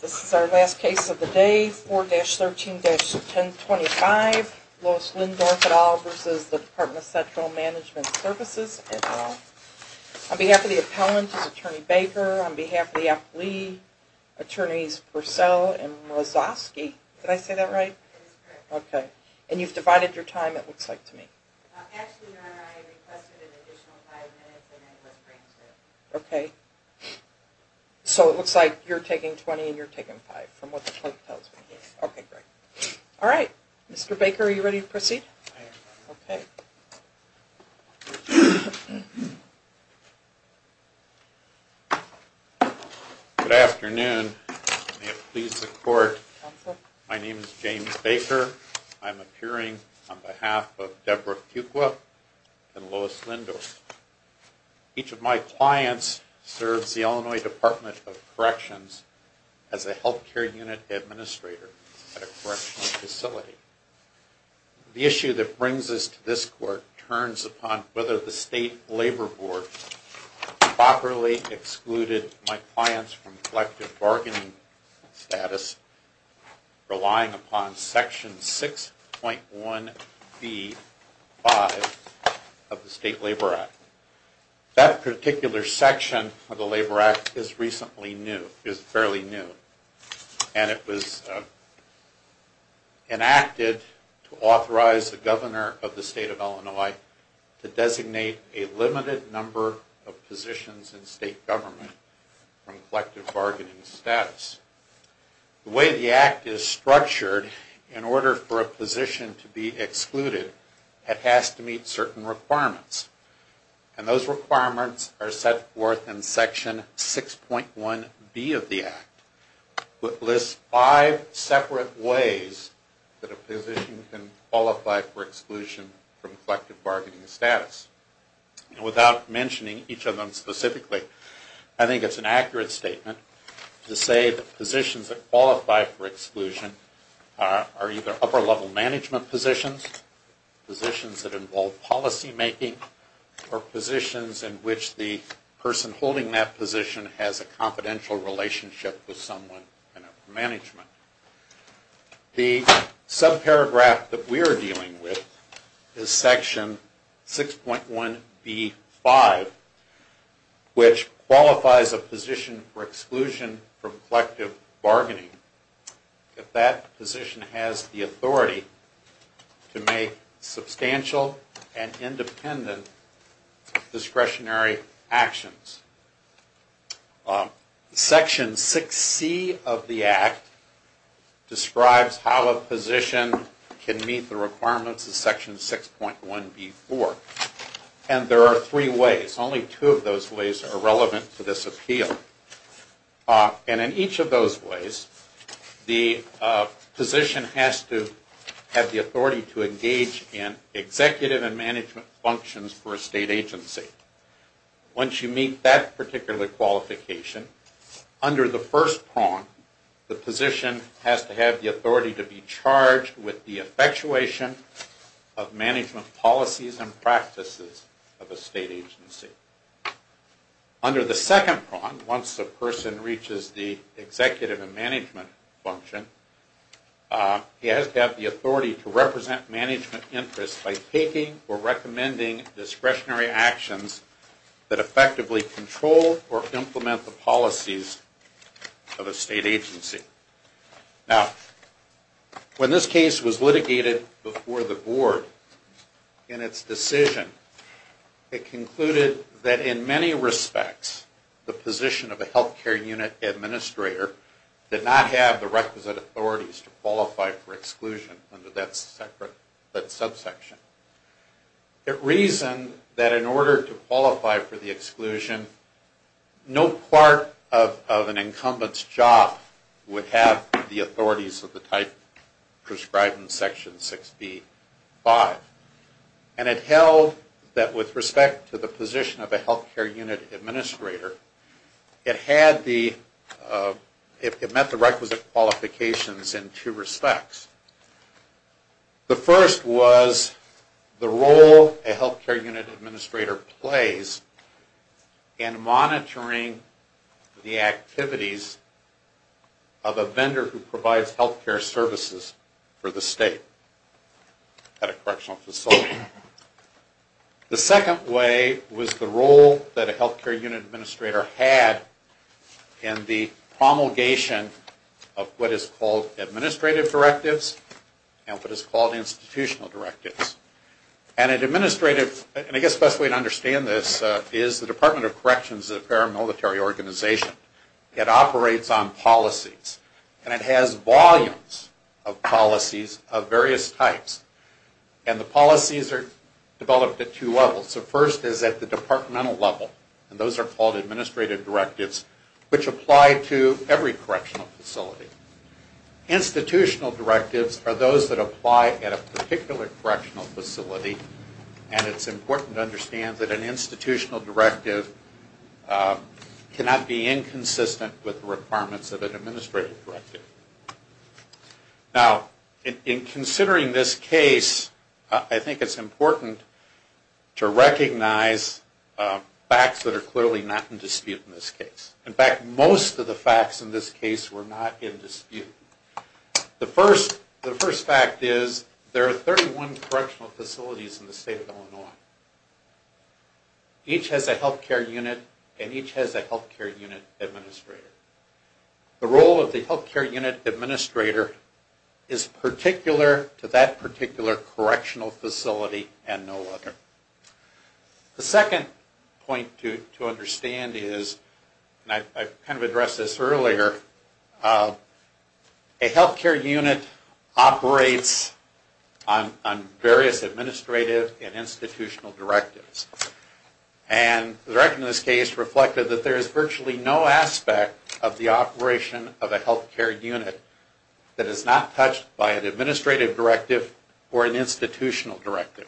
This is our last case of the day, 4-13-1025, Lois Lindorff et al. v. The Department of Central Management Services et al. On behalf of the appellant is Attorney Baker, on behalf of the appellee, Attorneys Purcell and Mrozowski. Did I say that right? It is correct. Okay. And you've divided your time it looks like to me. Ashley and I requested an additional five minutes and it was brinked through. Okay. So it looks like you're taking 20 and you're taking five from what the clerk tells me. Okay, great. All right. Mr. Baker, are you ready to proceed? I am. Okay. Good afternoon. May it please the Court. Counsel. My name is James Baker. I'm appearing on behalf of Deborah Fuqua and Lois Lindorff. Each of my clients serves the Illinois Department of Corrections as a Health Care Unit Administrator at a correctional facility. The issue that brings us to this Court turns upon whether the State Labor Board properly excluded my clients from collective bargaining status relying upon Section 6.1b-5 of the State Labor Act. That particular section of the Labor Act is recently new, is fairly new. And it was enacted to authorize the Governor of the State of Illinois to designate a limited number of positions in state government from collective bargaining status. The way the Act is structured in order for a position to be excluded, it has to meet certain requirements. And those requirements are set forth in Section 6.1b of the Act. It lists five separate ways that a position can qualify for exclusion from collective bargaining status. And without mentioning each of them specifically, I think it's an accurate statement to say that positions that qualify for exclusion are either upper-level management positions, positions that involve policymaking, or positions in which the person holding that position has a confidential relationship with someone in management. The subparagraph that we are dealing with is Section 6.1b-5, which qualifies a position for exclusion from collective bargaining if that position has the authority to make substantial and independent discretionary actions. Section 6c of the Act describes how a position can meet the requirements of Section 6.1b-4. And there are three ways. Only two of those ways are relevant to this appeal. And in each of those ways, the position has to have the authority to engage in executive and management functions for a state agency. Once you meet that particular qualification, under the first prong, the position has to have the authority to be charged with the effectuation of management policies and practices of a state agency. Under the second prong, once the person reaches the executive and management function, he has to have the authority to represent management interests by taking or recommending discretionary actions that effectively control or implement the policies of a state agency. Now, when this case was litigated before the Board in its decision, it concluded that in many respects, the position of a health care unit administrator did not have the requisite authorities to qualify for exclusion under that subsection. It reasoned that in order to qualify for the exclusion, no part of an incumbent's job would have the authorities of the type prescribed in Section 6b-5. And it held that with respect to the position of a health care unit administrator, it met the requisite qualifications in two respects. The first was the role a health care unit administrator plays in monitoring the activities of a vendor who provides health care services for the state at a correctional facility. The second way was the role that a health care unit administrator had in the promulgation of what is called administrative directives and what is called institutional directives. And an administrative, and I guess the best way to understand this, is the Department of Corrections is a paramilitary organization. It operates on policies, and it has volumes of policies of various types. And the policies are developed at two levels. The first is at the departmental level, and those are called administrative directives, which apply to every correctional facility. Institutional directives are those that apply at a particular correctional facility. And it's important to understand that an institutional directive cannot be inconsistent with the requirements of an administrative directive. Now, in considering this case, I think it's important to recognize facts that are clearly not in dispute in this case. In fact, most of the facts in this case were not in dispute. The first fact is there are 31 correctional facilities in the state of Illinois. Each has a health care unit, and each has a health care unit administrator. The role of the health care unit administrator is particular to that particular correctional facility and no other. The second point to understand is, and I kind of addressed this earlier, a health care unit operates on various administrative and institutional directives. And the direction of this case reflected that there is virtually no aspect of the operation of a health care unit that is not touched by an administrative directive or an institutional directive.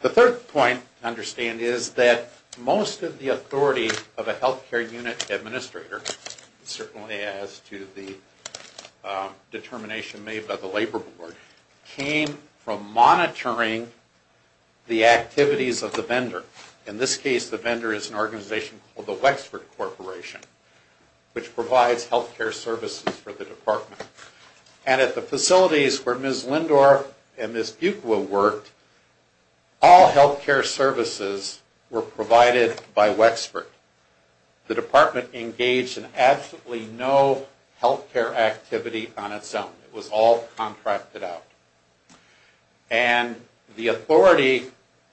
The third point to understand is that most of the authority of a health care unit administrator, certainly as to the determination made by the labor board, came from monitoring the activities of the vendor. In this case, the vendor is an organization called the Wexford Corporation, which provides health care services for the department. And at the facilities where Ms. Lindor and Ms. Buqua worked, all health care services were provided by Wexford. The department engaged in absolutely no health care activity on its own. It was all contracted out. And the authority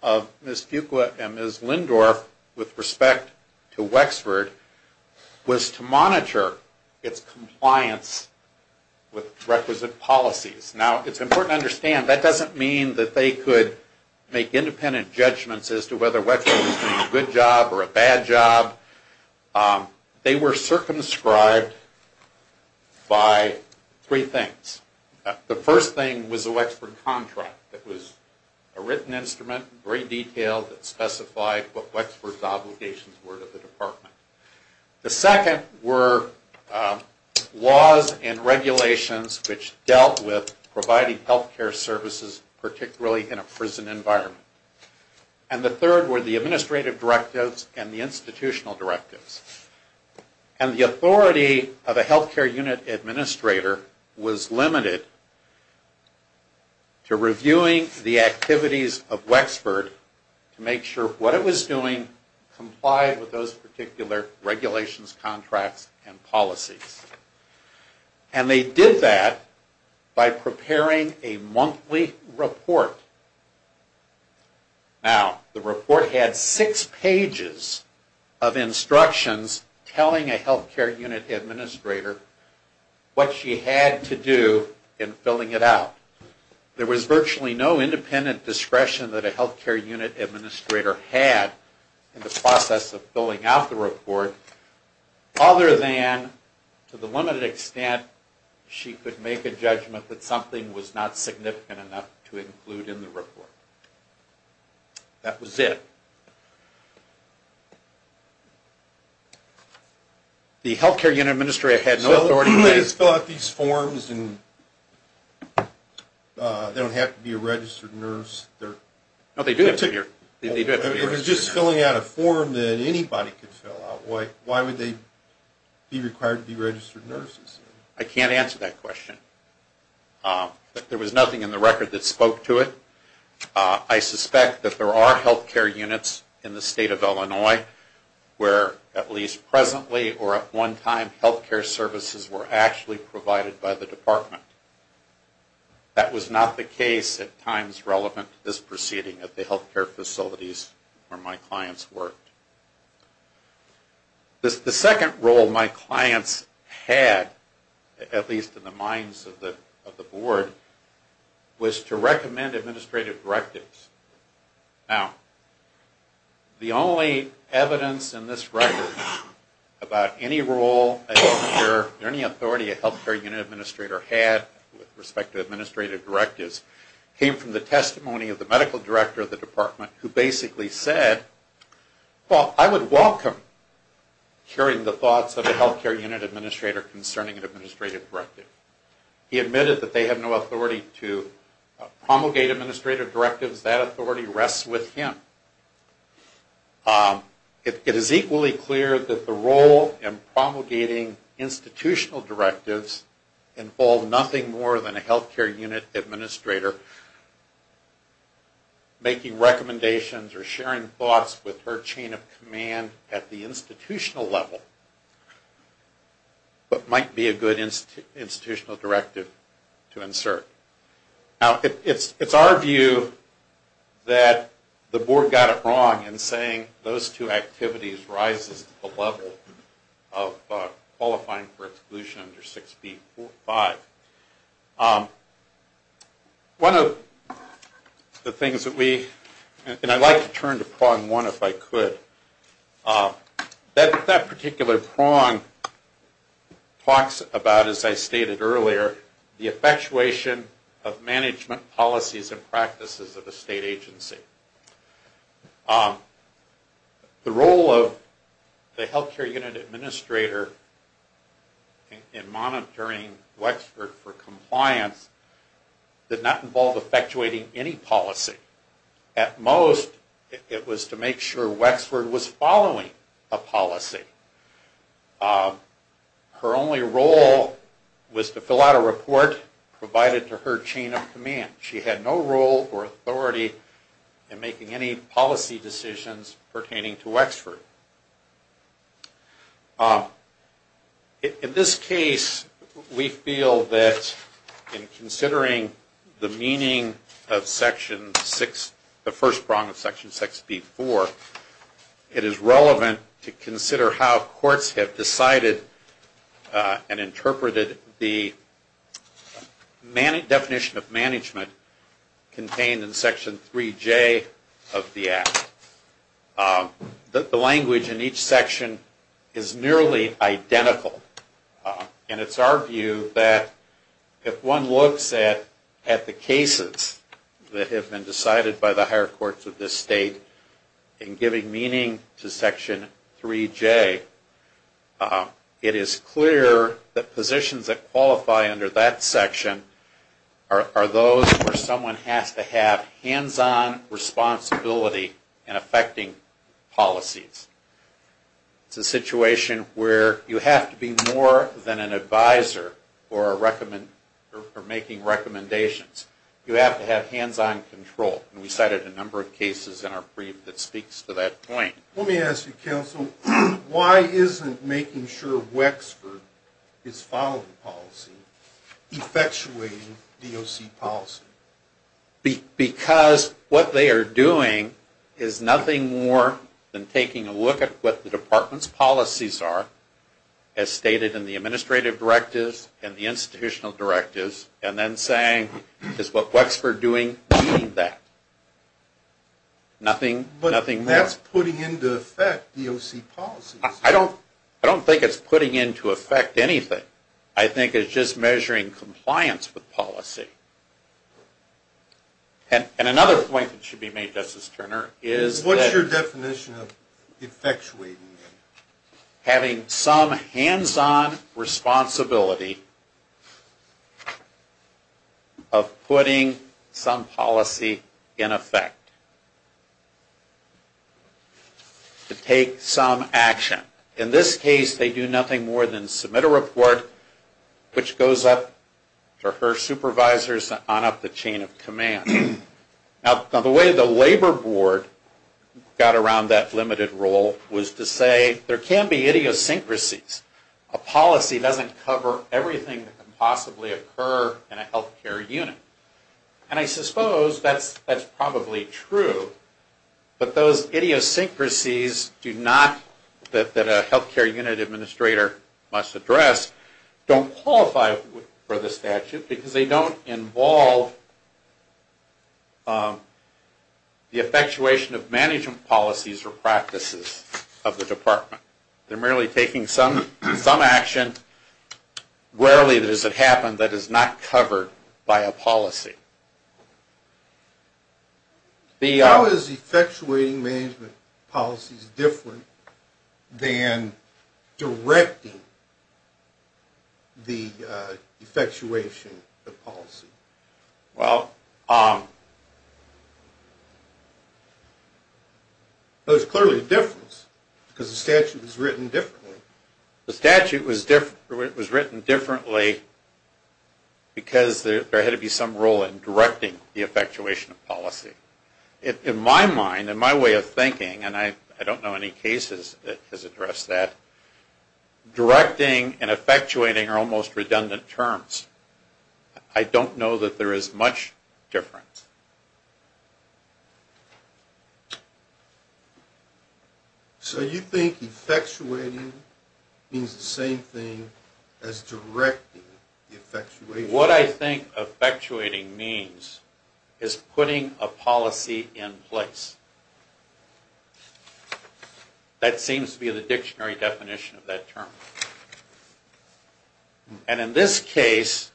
of Ms. Buqua and Ms. Lindor, with respect to Wexford, was to monitor its compliance with requisite policies. Now, it's important to understand, that doesn't mean that they could make independent judgments as to whether Wexford was doing a good job or a bad job. They were circumscribed by three things. The first thing was a Wexford contract. It was a written instrument, very detailed, that specified what Wexford's obligations were to the department. The second were laws and regulations which dealt with providing health care services, particularly in a prison environment. And the third were the administrative directives and the institutional directives. And the authority of a health care unit administrator was limited to reviewing the activities of Wexford to make sure what it was doing complied with those particular regulations, contracts, and policies. And they did that by preparing a monthly report. Now, the report had six pages of instructions telling a health care unit administrator what she had to do in filling it out. There was virtually no independent discretion that a health care unit administrator had in the process of filling out the report, other than to the limited extent she could make a judgment that something was not significant enough to include in the report. That was it. The health care unit administrator had no authority to fill out these forms. They don't have to be a registered nurse. No, they do have to be a registered nurse. If it was just filling out a form that anybody could fill out, why would they be required to be registered nurses? I can't answer that question. There was nothing in the record that spoke to it. I suspect that there are health care units in the state of Illinois where at least presently or at one time health care services were actually provided by the department. That was not the case at times relevant to this proceeding at the health care facilities where my clients worked. The second role my clients had, at least in the minds of the board, was to recommend administrative directives. Now, the only evidence in this record about any role any authority a health care unit administrator had with respect to administrative directives came from the testimony of the medical director of the department who basically said, well, I would welcome hearing the thoughts of a health care unit administrator concerning an administrative directive. He admitted that they have no authority to promulgate administrative directives. That authority rests with him. It is equally clear that the role in promulgating institutional directives involved nothing more than a health care unit administrator making recommendations or sharing thoughts with her chain of command at the institutional level, what might be a good institutional directive to insert. Now, it's our view that the board got it wrong in saying those two activities rises to the level of qualifying for exclusion under 6B.4.5. One of the things that we, and I'd like to turn to prong one if I could. That particular prong talks about, as I stated earlier, the effectuation of management policies and practices of a state agency. The role of the health care unit administrator in monitoring Wexford for compliance did not involve effectuating any policy. At most, it was to make sure Wexford was following a policy. Her only role was to fill out a report provided to her chain of command. She had no role or authority in making any policy decisions pertaining to Wexford. In this case, we feel that in considering the meaning of Section 6, the first prong of Section 6B.4, it is relevant to consider how courts have decided and interpreted the definition of management contained in Section 3J of the Act. The language in each section is nearly identical. And it's our view that if one looks at the cases that have been decided by the higher courts of this state in giving meaning to Section 3J, it is clear that positions that qualify under that section are those where someone has to have hands-on responsibility in effecting policies. It's a situation where you have to be more than an advisor for making recommendations. You have to have hands-on control. And we cited a number of cases in our brief that speaks to that point. Let me ask you, counsel, why isn't making sure Wexford is following policy, effectuating DOC policy? Because what they are doing is nothing more than taking a look at what the department's policies are, as stated in the administrative directives and the institutional directives, and then saying, is what Wexford is doing meaning that? But that's putting into effect DOC policies. I don't think it's putting into effect anything. I think it's just measuring compliance with policy. And another point that should be made, Justice Turner, is that... What's your definition of effectuating? Having some hands-on responsibility of putting some policy in effect. To take some action. In this case, they do nothing more than submit a report, which goes up to her supervisors and on up the chain of command. Now, the way the Labor Board got around that limited role was to say, there can be idiosyncrasies. A policy doesn't cover everything that can possibly occur in a health care unit. And I suppose that's probably true. But those idiosyncrasies that a health care unit administrator must address don't qualify for the statute because they don't involve the effectuation of management policies or practices of the department. They're merely taking some action, rarely does it happen, that is not covered by a policy. How is effectuating management policies different than directing the effectuation of policy? There's clearly a difference because the statute was written differently. The statute was written differently because there had to be some role in it. There had to be some role in directing the effectuation of policy. In my mind, in my way of thinking, and I don't know any cases that has addressed that, directing and effectuating are almost redundant terms. I don't know that there is much difference. So you think effectuating means the same thing as directing the effectuation? What I think effectuating means is putting a policy in place. That seems to be the dictionary definition of that term. And in this case,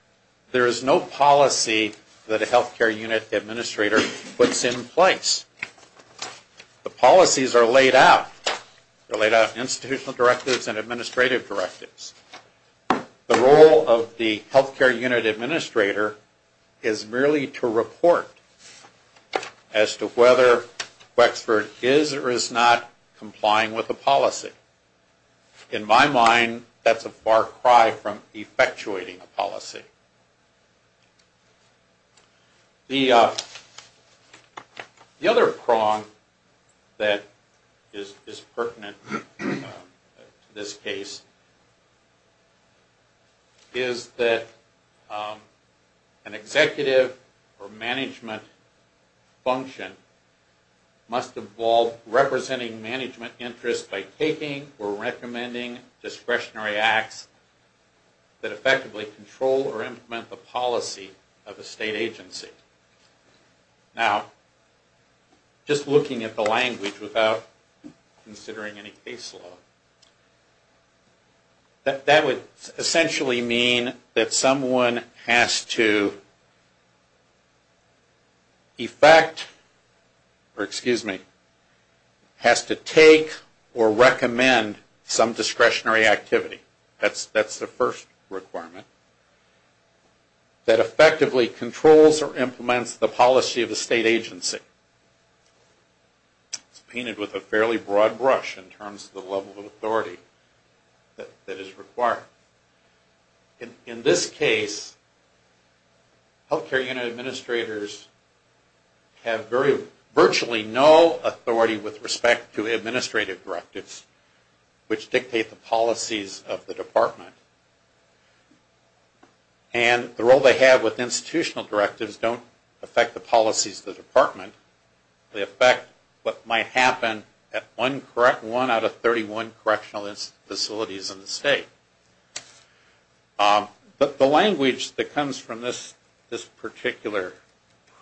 there is no policy that a health care unit administrator puts in place. The policies are laid out. They're laid out in institutional directives and administrative directives. The role of the health care unit administrator is merely to report as to whether Wexford is or is not complying with a policy. In my mind, that's a far cry from effectuating a policy. The other prong that is pertinent to this case is that an executive or management function must involve representing management interests by taking or recommending discretionary acts that effectively control or implement the policy of a state agency. Now, just looking at the language without considering any caseload, that would essentially mean that someone has to take or recommend some discretionary activity. That's the first requirement. That effectively controls or implements the policy of a state agency. It's painted with a fairly broad brush in terms of the level of authority that is required. In this case, health care unit administrators have virtually no authority with respect to administrative directives, which dictate the policies of the department. And the role they have with institutional directives don't affect the policies of the department. They affect what might happen at one out of 31 correctional facilities in the state. But the language that comes from this particular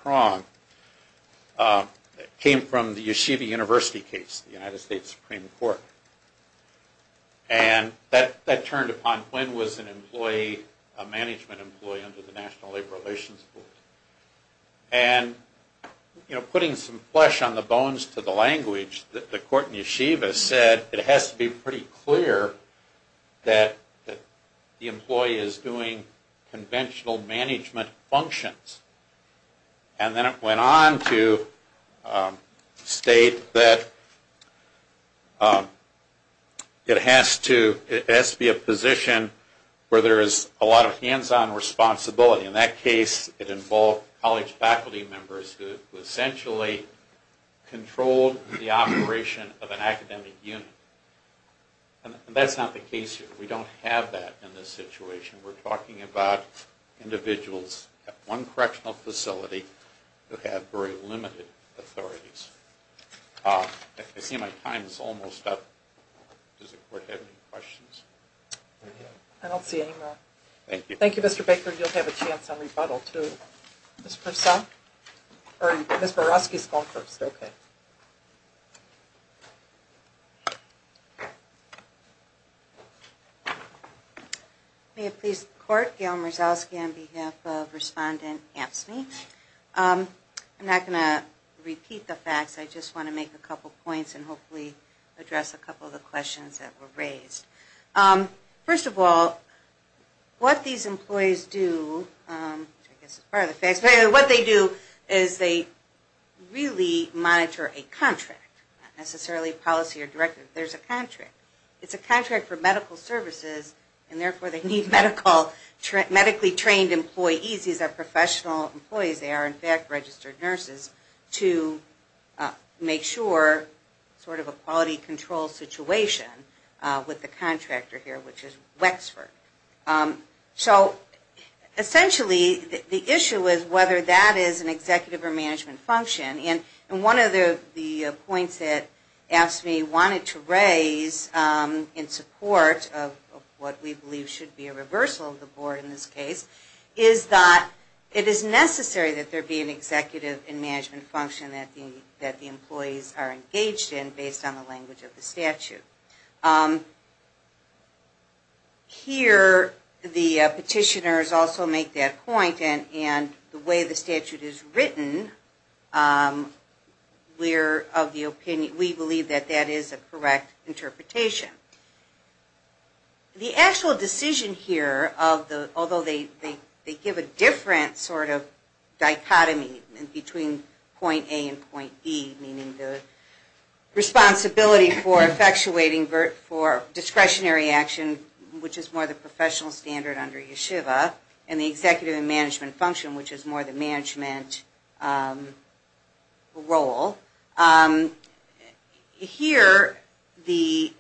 prong came from the Yeshiva University case, the United States Supreme Court. And that turned upon Quinn was an employee, a management employee under the National Labor Relations Board. And putting some flesh on the bones to the language, the court in Yeshiva said it has to be pretty clear that the employee is doing conventional management functions. And then it went on to state that it has to be a position where there is a lot of hands-on responsibility. In that case, it involved college faculty members who essentially controlled the operation of an academic unit. And that's not the case here. We don't have that in this situation. We're talking about individuals at one correctional facility who have very limited authorities. I see my time is almost up. Does the court have any questions? I don't see any more. Thank you, Mr. Baker. You'll have a chance on rebuttal too. Ms. Burowski is going first. May it please the court, Gail Murzowski on behalf of Respondent Amtsme. I'm not going to repeat the facts. I just want to make a couple points and hopefully address a couple of the questions that were raised. First of all, what these employees do, which I guess is part of the facts, what they do is they really monitor a contract. Not necessarily a policy or directive. There's a contract. It's a contract for medical services and therefore they need medically trained employees. These are professional employees. They are in fact registered nurses to make sure, sort of a quality control situation with the contractor here, which is Wexford. So essentially the issue is whether that is an executive or management function. One of the points that Amtsme wanted to raise in support of what we believe should be a reversal of the board in this case, is that it is necessary that there be an executive and management function that the employees are engaged in based on the language of the statute. Here, the petitioners also make that point and the way the statute is written, we believe that that is a correct interpretation. The actual decision here, although they give a different sort of dichotomy between point A and point B, meaning the responsibility for effectuating discretionary action, which is more the professional standard under Yeshiva, and the executive and management function, which is more the management role. Here, the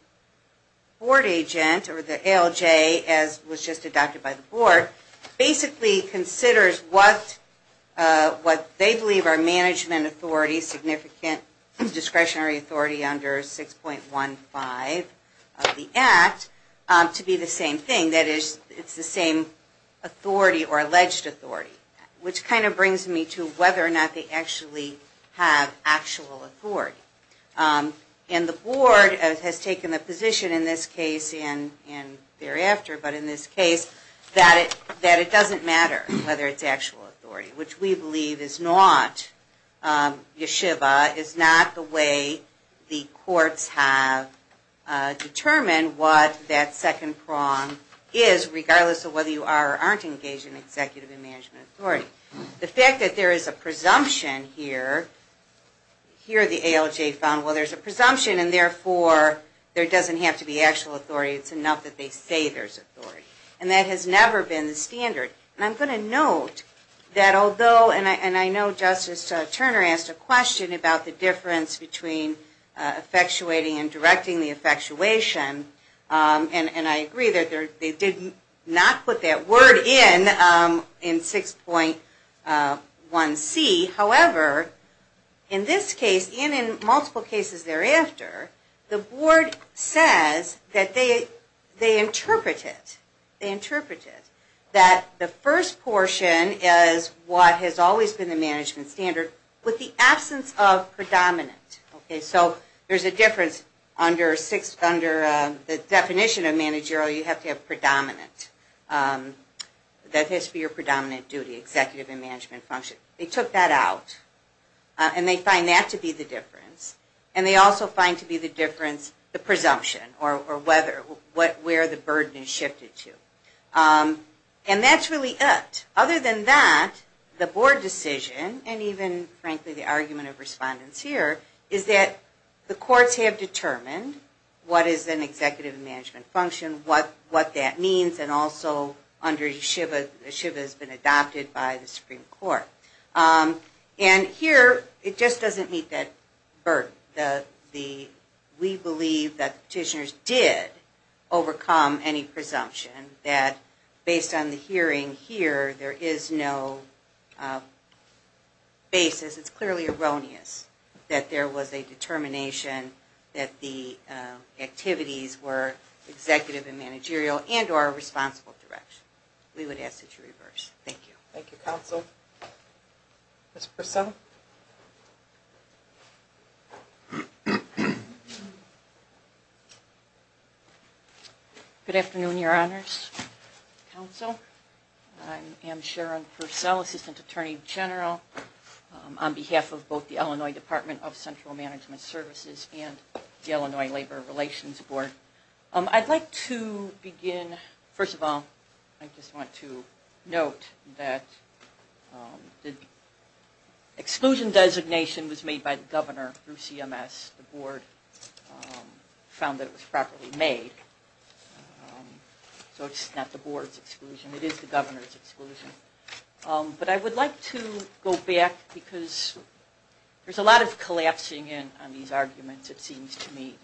board agent or the ALJ, as was just adopted by the board, basically considers what they believe are management authority, significant discretionary authority under 6.15 of the Act, to be the same thing, that it is the same authority or alleged authority. Which kind of brings me to whether or not they actually have actual authority. And the board has taken the position in this case and thereafter, but in this case, that it doesn't matter whether it's actual authority, which we believe is not Yeshiva, is not the way the courts have determined what that second prong is, regardless of whether you are or aren't engaged in executive and management authority. The fact that there is a presumption here, here the ALJ found, well, there's a presumption and therefore, there doesn't have to be actual authority, it's enough that they say there's authority. And that has never been the standard. And I'm going to note that although, and I know Justice Turner asked a question about the difference between effectuating and directing the effectuation, and I agree that they did not put that word in, in 6.1C. However, in this case, and in multiple cases thereafter, the board says that they interpret it. They interpret it. That the first portion is what has always been the management standard, with the absence of predominant. Okay, so there's a difference under 6, under the definition of managerial, you have to have predominant. That has to be your predominant duty, executive and management function. They took that out. And they find that to be the difference. And they also find to be the difference, the presumption, or whether, where the burden is shifted to. And that's really it. Other than that, the board decision, and even frankly the argument of respondents here, is that the courts have determined what is an executive and management function, what that means, and also under yeshiva, yeshiva has been adopted by the Supreme Court. And here, it just doesn't meet that burden. We believe that the petitioners did overcome any presumption, that based on the hearing here, there is no basis, it's clearly erroneous, that there was a determination that the activities were executive and managerial, and or a responsible direction. We would ask that you reverse. Thank you. Thank you, counsel. Ms. Purcell? Good afternoon, your honors, counsel. I am Sharon Purcell, Assistant Attorney General on behalf of both the Illinois Department of Central Management Services and the Illinois Labor Relations Board. I'd like to begin, first of all, I just want to note that the exclusion designation was made by the governor through CMS. The board found that it was properly made. So it's not the board's exclusion, it is the governor's exclusion. But I would like to go back because there's a lot of collapsing in on these arguments, it seems to me.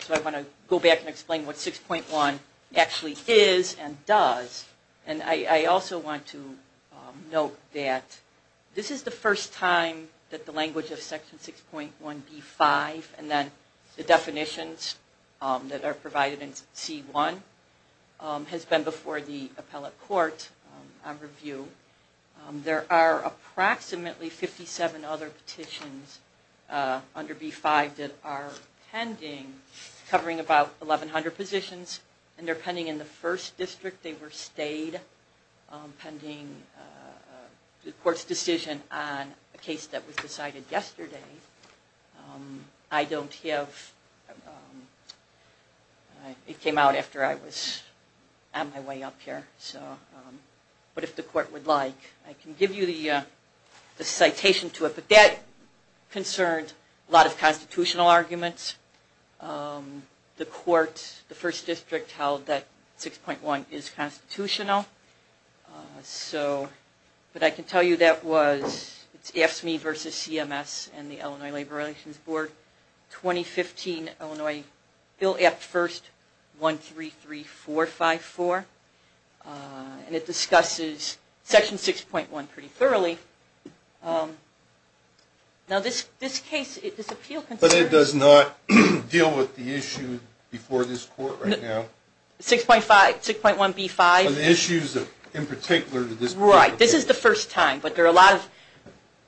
So I want to go back and explain what 6.1 actually is and does. And I also want to note that this is the first time that the language of Section 6.1B-5 and then the definitions that are provided in C-1 has been before the appellate court on review. There are approximately 57 other petitions under B-5 that are pending, covering about 1,100 positions. And they're pending in the first district. They were stayed pending the court's decision on a case that was decided yesterday. I don't have... it came out after I was on my way up here. But if the court would like, I can give you the citation to it. That concerned a lot of constitutional arguments. The court, the first district, held that 6.1 is constitutional. So, but I can tell you that was AFSCME versus CMS and the Illinois Labor Relations Board, 2015 Illinois Bill Act First 133454. And it discusses Section 6.1 pretty thoroughly. Now this case, this appeal... But it does not deal with the issue before this court right now? 6.5, 6.1B-5. The issues in particular to this... Right. This is the first time. But there are a lot of...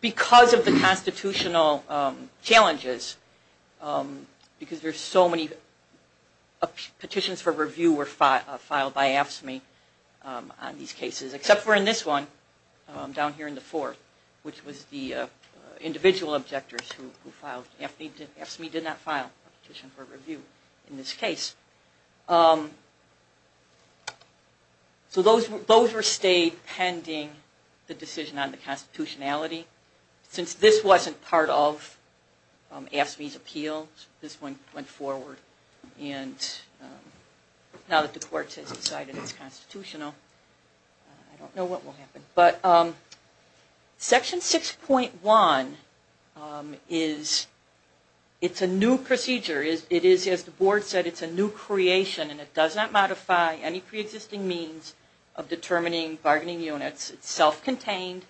because of the constitutional challenges, because there are so many petitions for review were filed by AFSCME on these cases. Except for in this one, down here in the fourth, which was the individual objectors who filed. AFSCME did not file a petition for review in this case. So those were stayed pending the decision on the constitutionality. Since this wasn't part of AFSCME's appeal, this one went forward. And now that the court has decided it's constitutional, I don't know what will happen. But Section 6.1 is, it's a new procedure. It is, as the board said, it's a new creation. And it does not modify any pre-existing means of determining bargaining units. It's self-contained.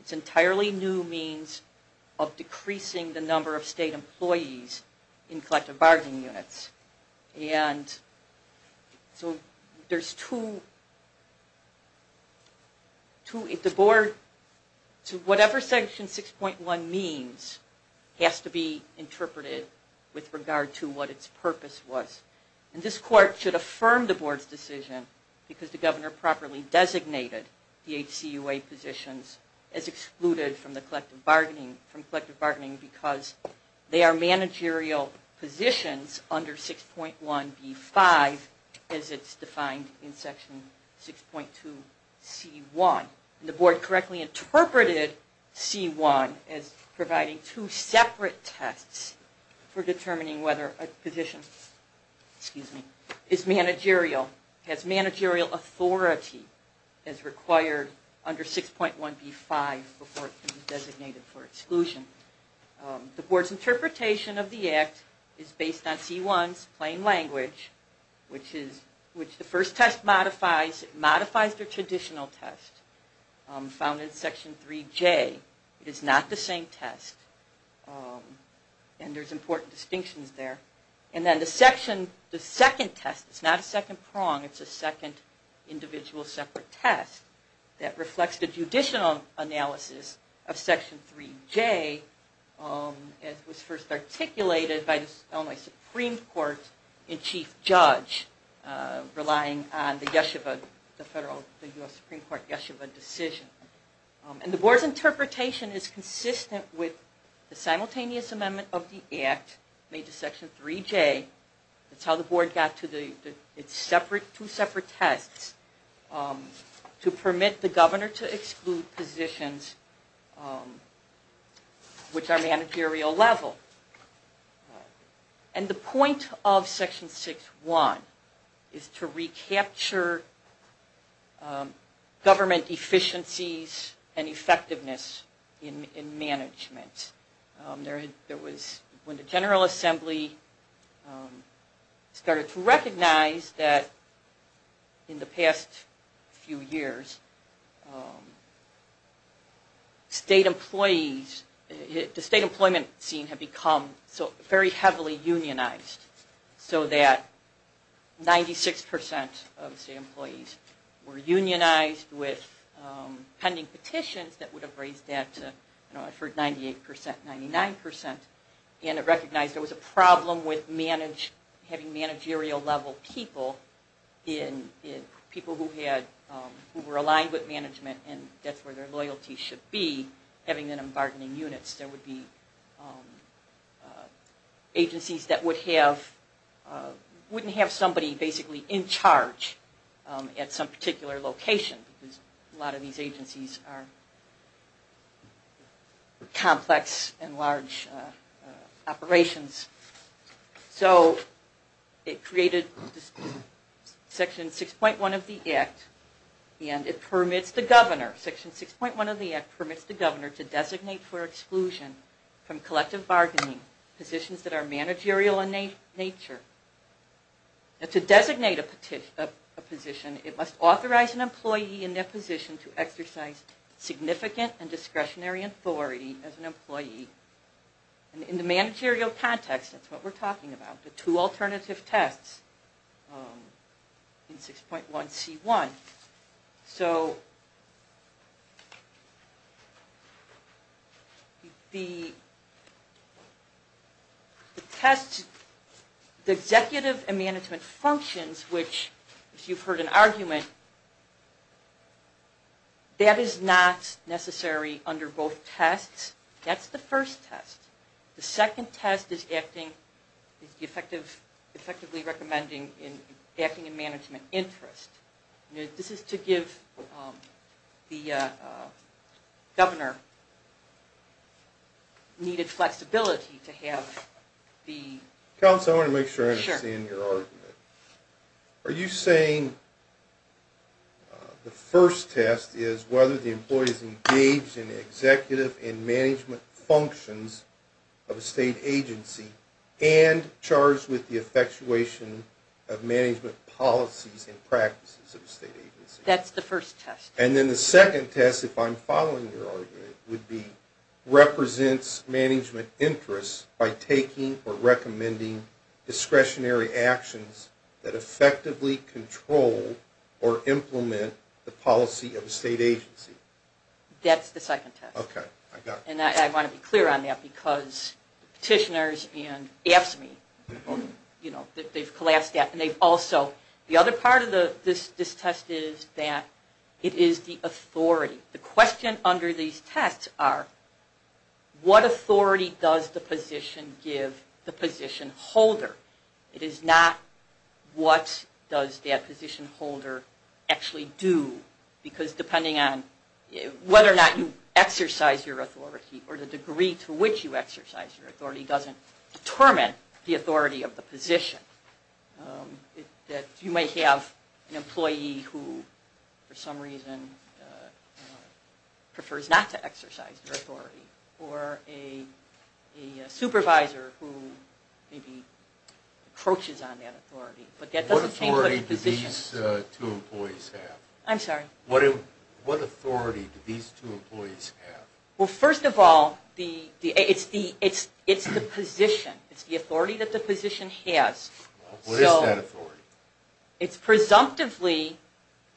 It's entirely new means of decreasing the number of state employees in collective bargaining units. And so there's two... The board... whatever Section 6.1 means has to be interpreted with regard to what its purpose was. And this court should affirm the board's decision because the governor properly designated the HCUA positions as excluded from the collective bargaining, from collective bargaining because they are managerial positions under 6.1b5 as it's defined in Section 6.2c1. The board correctly interpreted c1 as providing two separate tests for determining whether a position is managerial. It has managerial authority as required under 6.1b5 before it can be designated for exclusion. The board's interpretation of the act is based on c1's plain language, which the first test modifies. It modifies the traditional test found in Section 3j. It is not the same test. And there's important distinctions there. And then the second test, it's not a second prong, it's a second individual separate test that reflects the judicial analysis of Section 3j as was first articulated by the Illinois Supreme Court in chief judge relying on the US Supreme Court Yeshiva decision. And the board's interpretation is consistent with the simultaneous amendment of the act made to Section 3j. That's how the board got to its two separate tests to permit the governor to exclude positions which are managerial level. And the point of Section 6.1 is to recapture government efficiencies and effectiveness in management. There was, when the General Assembly started to recognize that in the past few years, state employees, the state employment scene had become very heavily unionized so that 96% of state employees were unionized with pending petitions that would have raised that to, you know, I've heard 98%, 99%. And it recognized there was a problem with having managerial level people in, people who were aligned with management and that's where their loyalty should be, having them in bargaining units. There would be agencies that would have, wouldn't have somebody basically in charge at some particular location because a lot of these agencies are complex and large operations. So it created Section 6.1 of the act and it permits the governor, Section 6.1 of the act permits the governor to designate for exclusion from collective bargaining positions that are managerial in nature. Now to designate a position, it must authorize an employee in their position to exercise significant and discretionary authority as an employee. And in the managerial context, that's what we're talking about, the two alternative tests in 6.1C1. So the test, the executive and management functions, which if you've heard an argument, that is not necessary under both tests. That's the first test. The second test is acting, effectively recommending acting in management interest. This is to give the governor needed flexibility to have the... Council, I want to make sure I understand your argument. Are you saying the first test is whether the employee is engaged in the executive and management functions of a state agency and charged with the effectuation of management policies and practices of a state agency? That's the first test. And then the second test, if I'm following your argument, would be represents management interest by taking or recommending discretionary actions that effectively control or implement the policy of a state agency? That's the second test. Okay, I got it. And I want to be clear on that because petitioners and AFSCME, you know, they've collapsed that. And they've also, the other part of this test is that it is the authority. The question under these tests are, what authority does the position give the position holder? It is not what does that position holder actually do? Because depending on whether or not you exercise your authority or the degree to which you exercise your authority doesn't determine the authority of the position. That you may have an employee who, for some reason, prefers not to exercise their authority. Or a supervisor who maybe approaches on that authority. What authority do these two employees have? Well, first of all, it's the position. It's the authority that the position has. What is that authority? It's presumptively,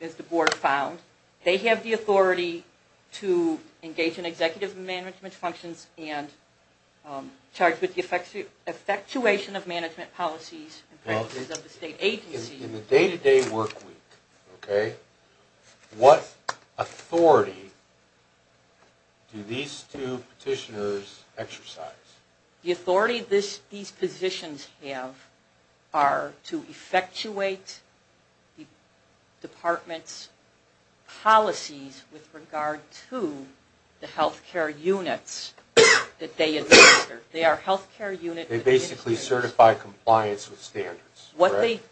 as the board found, they have the authority to engage in executive management functions and charge with the effectuation of management policies and practices of the state agency. In the day-to-day work week, okay, what authority do these two petitioners exercise? The authority these positions have are to effectuate the department's policies with regard to the health care units that they administer. They are health care units. They basically certify compliance with standards, correct?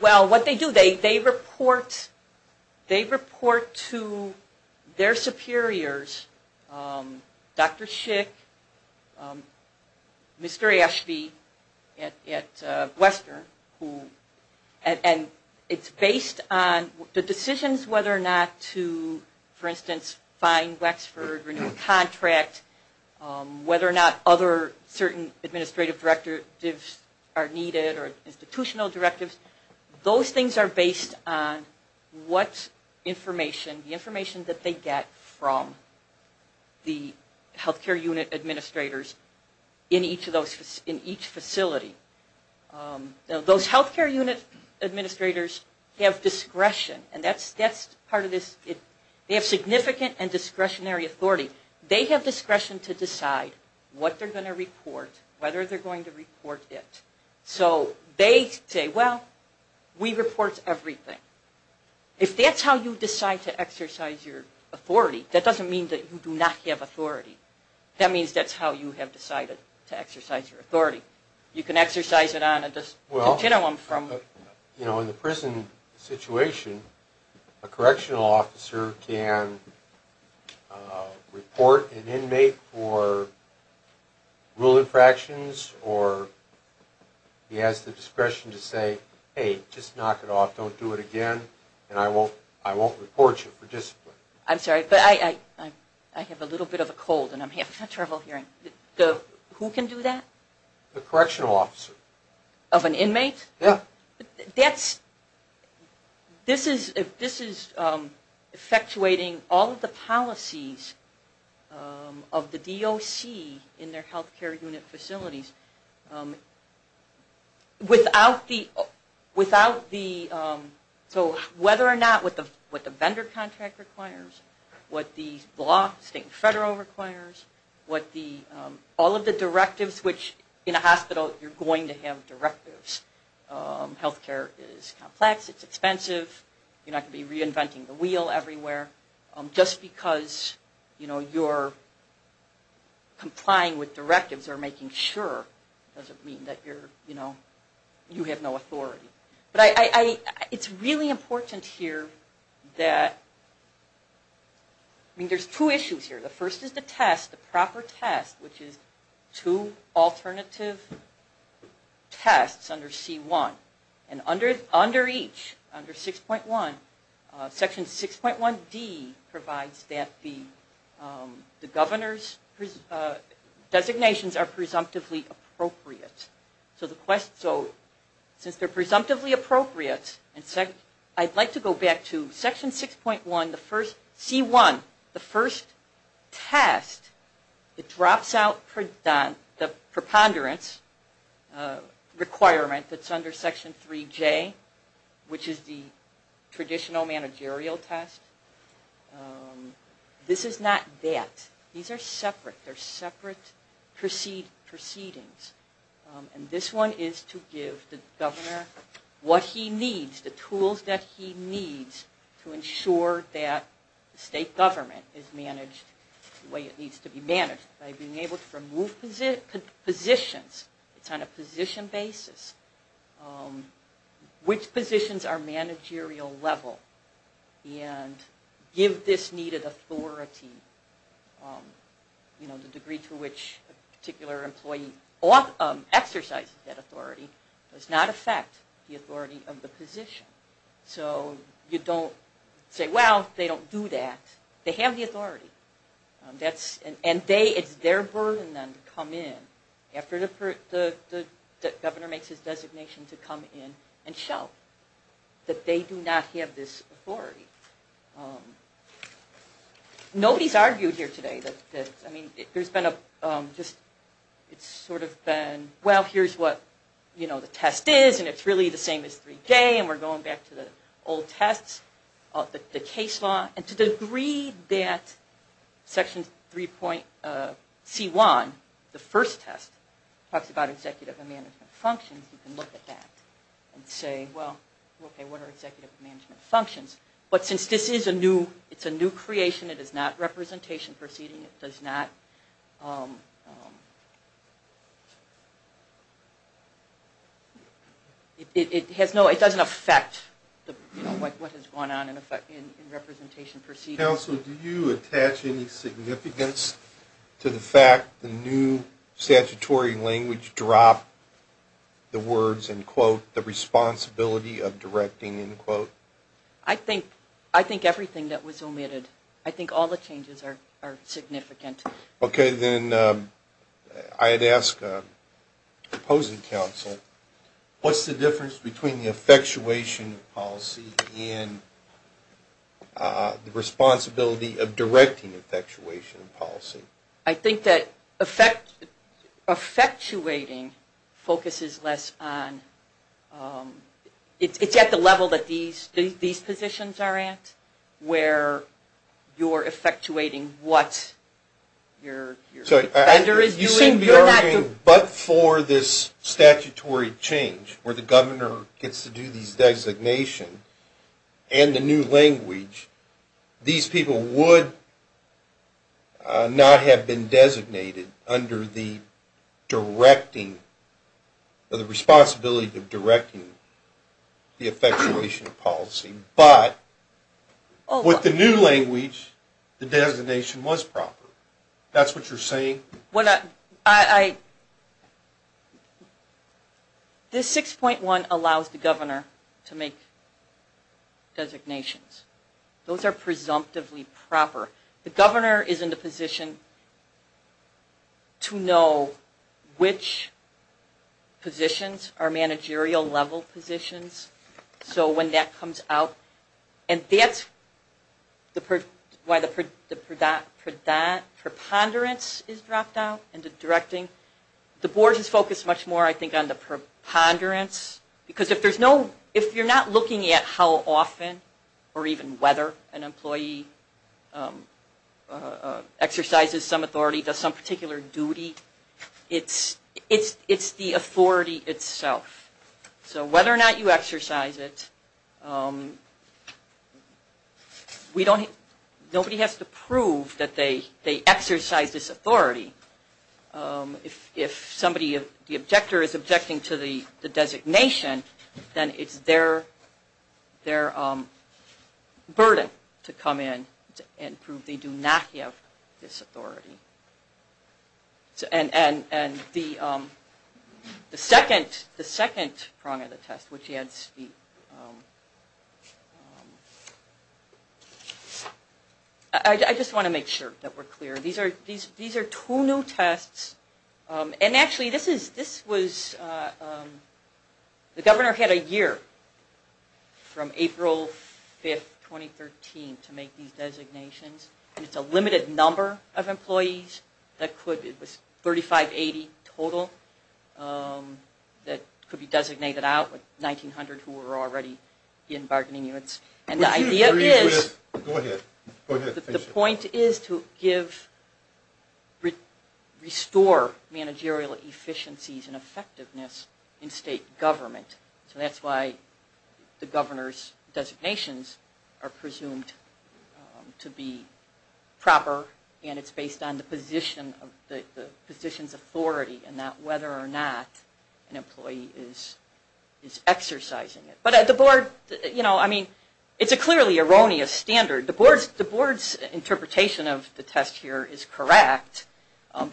Well, what they do, they report to their superiors, Dr. Schick, Mr. Ashby at Western, and it's based on the decisions whether or not to, for instance, find Wexford, renew the contract, whether or not other certain administrative directives are needed or institutional directives. Those things are based on what information, the information that they get from the health care unit administrators in each facility. Those health care unit administrators have discretion, and that's part of this. They have significant and discretionary authority. They have discretion to decide what they're going to report, whether they're going to report it. So they say, well, we report everything. If that's how you decide to exercise your authority, that doesn't mean that you do not have authority. That means that's how you have decided to exercise your authority. You can exercise it on a continuum from... He has the discretion to say, hey, just knock it off. Don't do it again, and I won't report you for discipline. I'm sorry, but I have a little bit of a cold, and I'm having trouble hearing. Who can do that? The correctional officer. Of an inmate? Yeah. This is effectuating all of the policies of the DOC in their health care unit facilities. So whether or not what the vendor contract requires, what the state and federal requires, all of the directives, which in a hospital you're going to have directives. Health care is complex. It's expensive. You're not going to be reinventing the wheel everywhere. Just because you're complying with directives or making sure doesn't mean that you have no authority. But it's really important here that... I mean, there's two issues here. The first is the test, the proper test, which is two alternative tests under C1. And under each, under 6.1, section 6.1D provides that the governor's designations are presumptively appropriate. So since they're presumptively appropriate, I'd like to go back to section 6.1, C1, the first test, it drops out the preponderance requirement that's under section 3J, which is the traditional managerial test. This is not that. These are separate. They're separate proceedings. And this one is to give the governor what he needs, the tools that he needs, to ensure that the state government is managed the way it needs to be managed, by being able to remove positions. It's on a position basis. Which positions are managerial level? And give this needed authority. You know, the degree to which a particular employee exercises that authority does not affect the authority of the position. So you don't say, well, they don't do that. They have the authority. And it's their burden then to come in after the governor makes his designation to come in and show that they do not have this authority. Nobody's argued here today that, I mean, there's been a, just, it's sort of been, well, here's what, you know, the test is, and it's really the same as 3J, and we're going back to the old tests, the case law. And to the degree that section C1, the first test, talks about executive and management functions, you can look at that. And say, well, okay, what are executive and management functions? But since this is a new, it's a new creation, it is not representation proceeding, it does not, it has no, it doesn't affect, you know, what has gone on in representation proceeding. Counsel, do you attach any significance to the fact the new statutory language dropped the words, in quote, the responsibility of directing, in quote? I think, I think everything that was omitted. I think all the changes are significant. Okay, then I'd ask opposing counsel, what's the difference between the effectuation policy and the responsibility of directing effectuation policy? I think that effectuating focuses less on, it's at the level that these positions are at, where you're effectuating what your defender is doing. You seem to be arguing, but for this statutory change, where the governor gets to do these designations, and the new language, these people would not have been designated under the directing, or the responsibility of directing the effectuation policy. But, with the new language, the designation was proper. That's what you're saying? I, I, this 6.1 allows the governor to make designations. Those are presumptively proper. The governor is in the position to know which positions are managerial level positions, so when that comes out, and that's why the preponderance is dropped out in the directing. The board is focused much more, I think, on the preponderance, because if there's no, if you're not looking at how often, or even whether an employee exercises some authority, does some particular duty, it's the authority itself. So, whether or not you exercise it, we don't, nobody has to prove that they exercise this authority. If somebody, the objector is objecting to the designation, then it's their burden to come in and prove they do not have this authority. So, and, and, and the second, the second prong of the test, which adds to the, I just want to make sure that we're clear. These are, these are two new tests, and actually this is, this was, the governor had a year from April 5th, 2013, to make these designations, and it's a limited number of employees, that could, it was 3580 total, that could be designated out, with 1900 who were already in bargaining units. And the idea is, the point is to give, restore managerial efficiencies and effectiveness in state government. So that's why the governor's designations are presumed to be proper, and it's based on the position, the position's authority, and not whether or not an employee is, is exercising it. But the board, you know, I mean, it's a clearly erroneous standard. The board's, the board's interpretation of the test here is correct,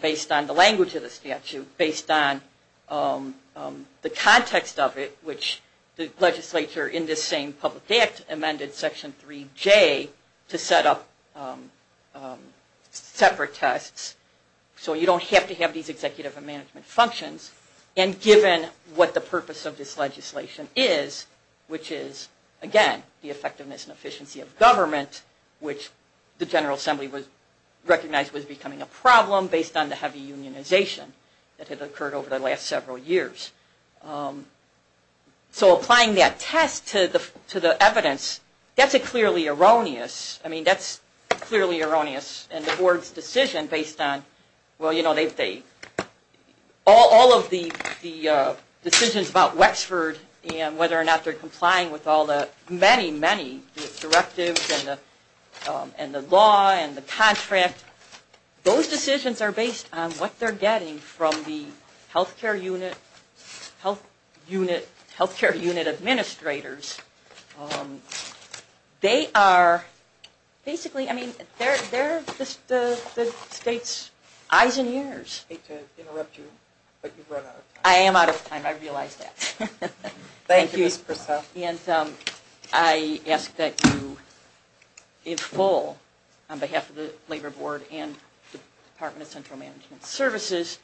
based on the language of the statute, based on the context of it, which the legislature in this same public act amended Section 3J to set up separate tests, so you don't have to have these executive and management functions. And given what the purpose of this legislation is, which is, again, the effectiveness and efficiency of government, which the General Assembly was, recognized was becoming a problem based on the heavy unionization that had occurred over the last several years. So applying that test to the, to the evidence, that's a clearly erroneous, I mean, that's clearly erroneous. And the board's decision based on, well, you know, they, they, all, all of the, the decisions about Wexford and whether or not they're complying with all the, many, many directives and the, and the law and the contract, those decisions are based on what they're getting from the health care unit, health unit, health care unit administrators. They are basically, I mean, they're, they're the state's eyes and ears. I hate to interrupt you, but you've run out of time. I am out of time, I realize that. Thank you, Ms. Purcell. And I ask that you, in full, on behalf of the Labor Board and the Department of Central Management Services,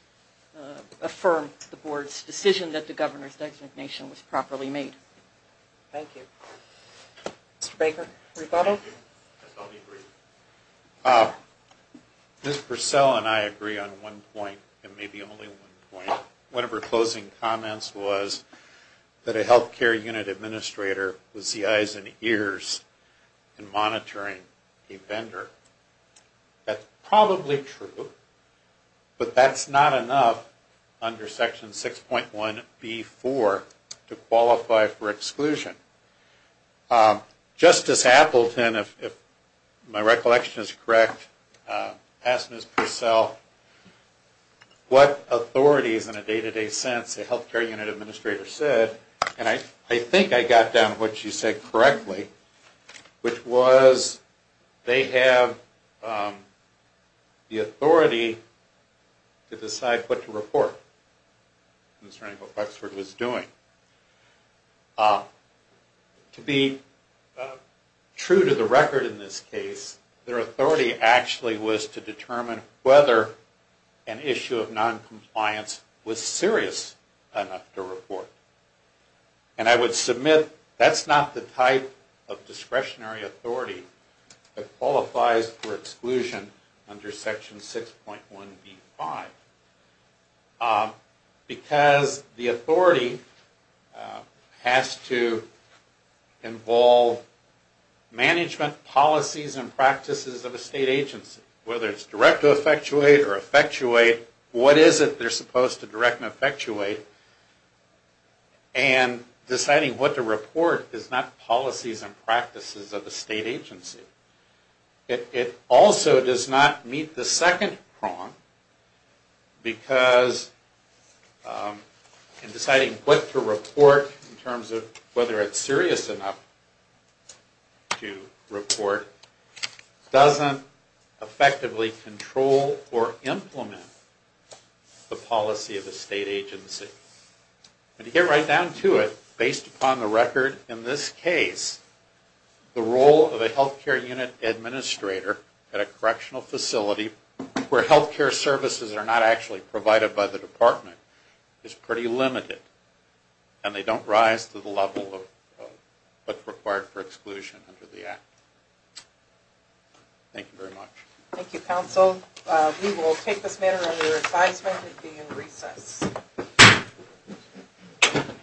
affirm the board's decision that the governor's designation was properly made. Thank you. Mr. Baker, rebuttal? Thank you. I totally agree. Ms. Purcell and I agree on one point, and maybe only one point. One of her closing comments was that a health care unit administrator was the eyes and ears in monitoring a vendor. That's probably true, but that's not enough under Section 6.1B4 to qualify for exclusion. Justice Appleton, if my recollection is correct, asked Ms. Purcell what authorities in a day-to-day sense a health care unit administrator said, and I think I got down to what she said correctly, which was they have the authority to decide what to report concerning what Bucksford was doing. To be true to the record in this case, their authority actually was to determine whether an issue of noncompliance was serious enough to report. And I would submit that's not the type of discretionary authority that qualifies for exclusion under Section 6.1B5. Because the authority has to involve management policies and practices of a state agency, whether it's direct to effectuate or effectuate, what is it they're supposed to direct and effectuate, and deciding what to report is not policies and practices of the state agency. It also does not meet the second prong, because in deciding what to report, in terms of whether it's serious enough to report, doesn't effectively control or implement the policy of the state agency. And to get right down to it, based upon the record in this case, the role of a health care unit administrator at a correctional facility where health care services are not actually provided by the department is pretty limited, and they don't rise to the level of what's required for exclusion under the Act. Thank you very much. Thank you, counsel. We will take this matter under advisement and begin recess. Thank you.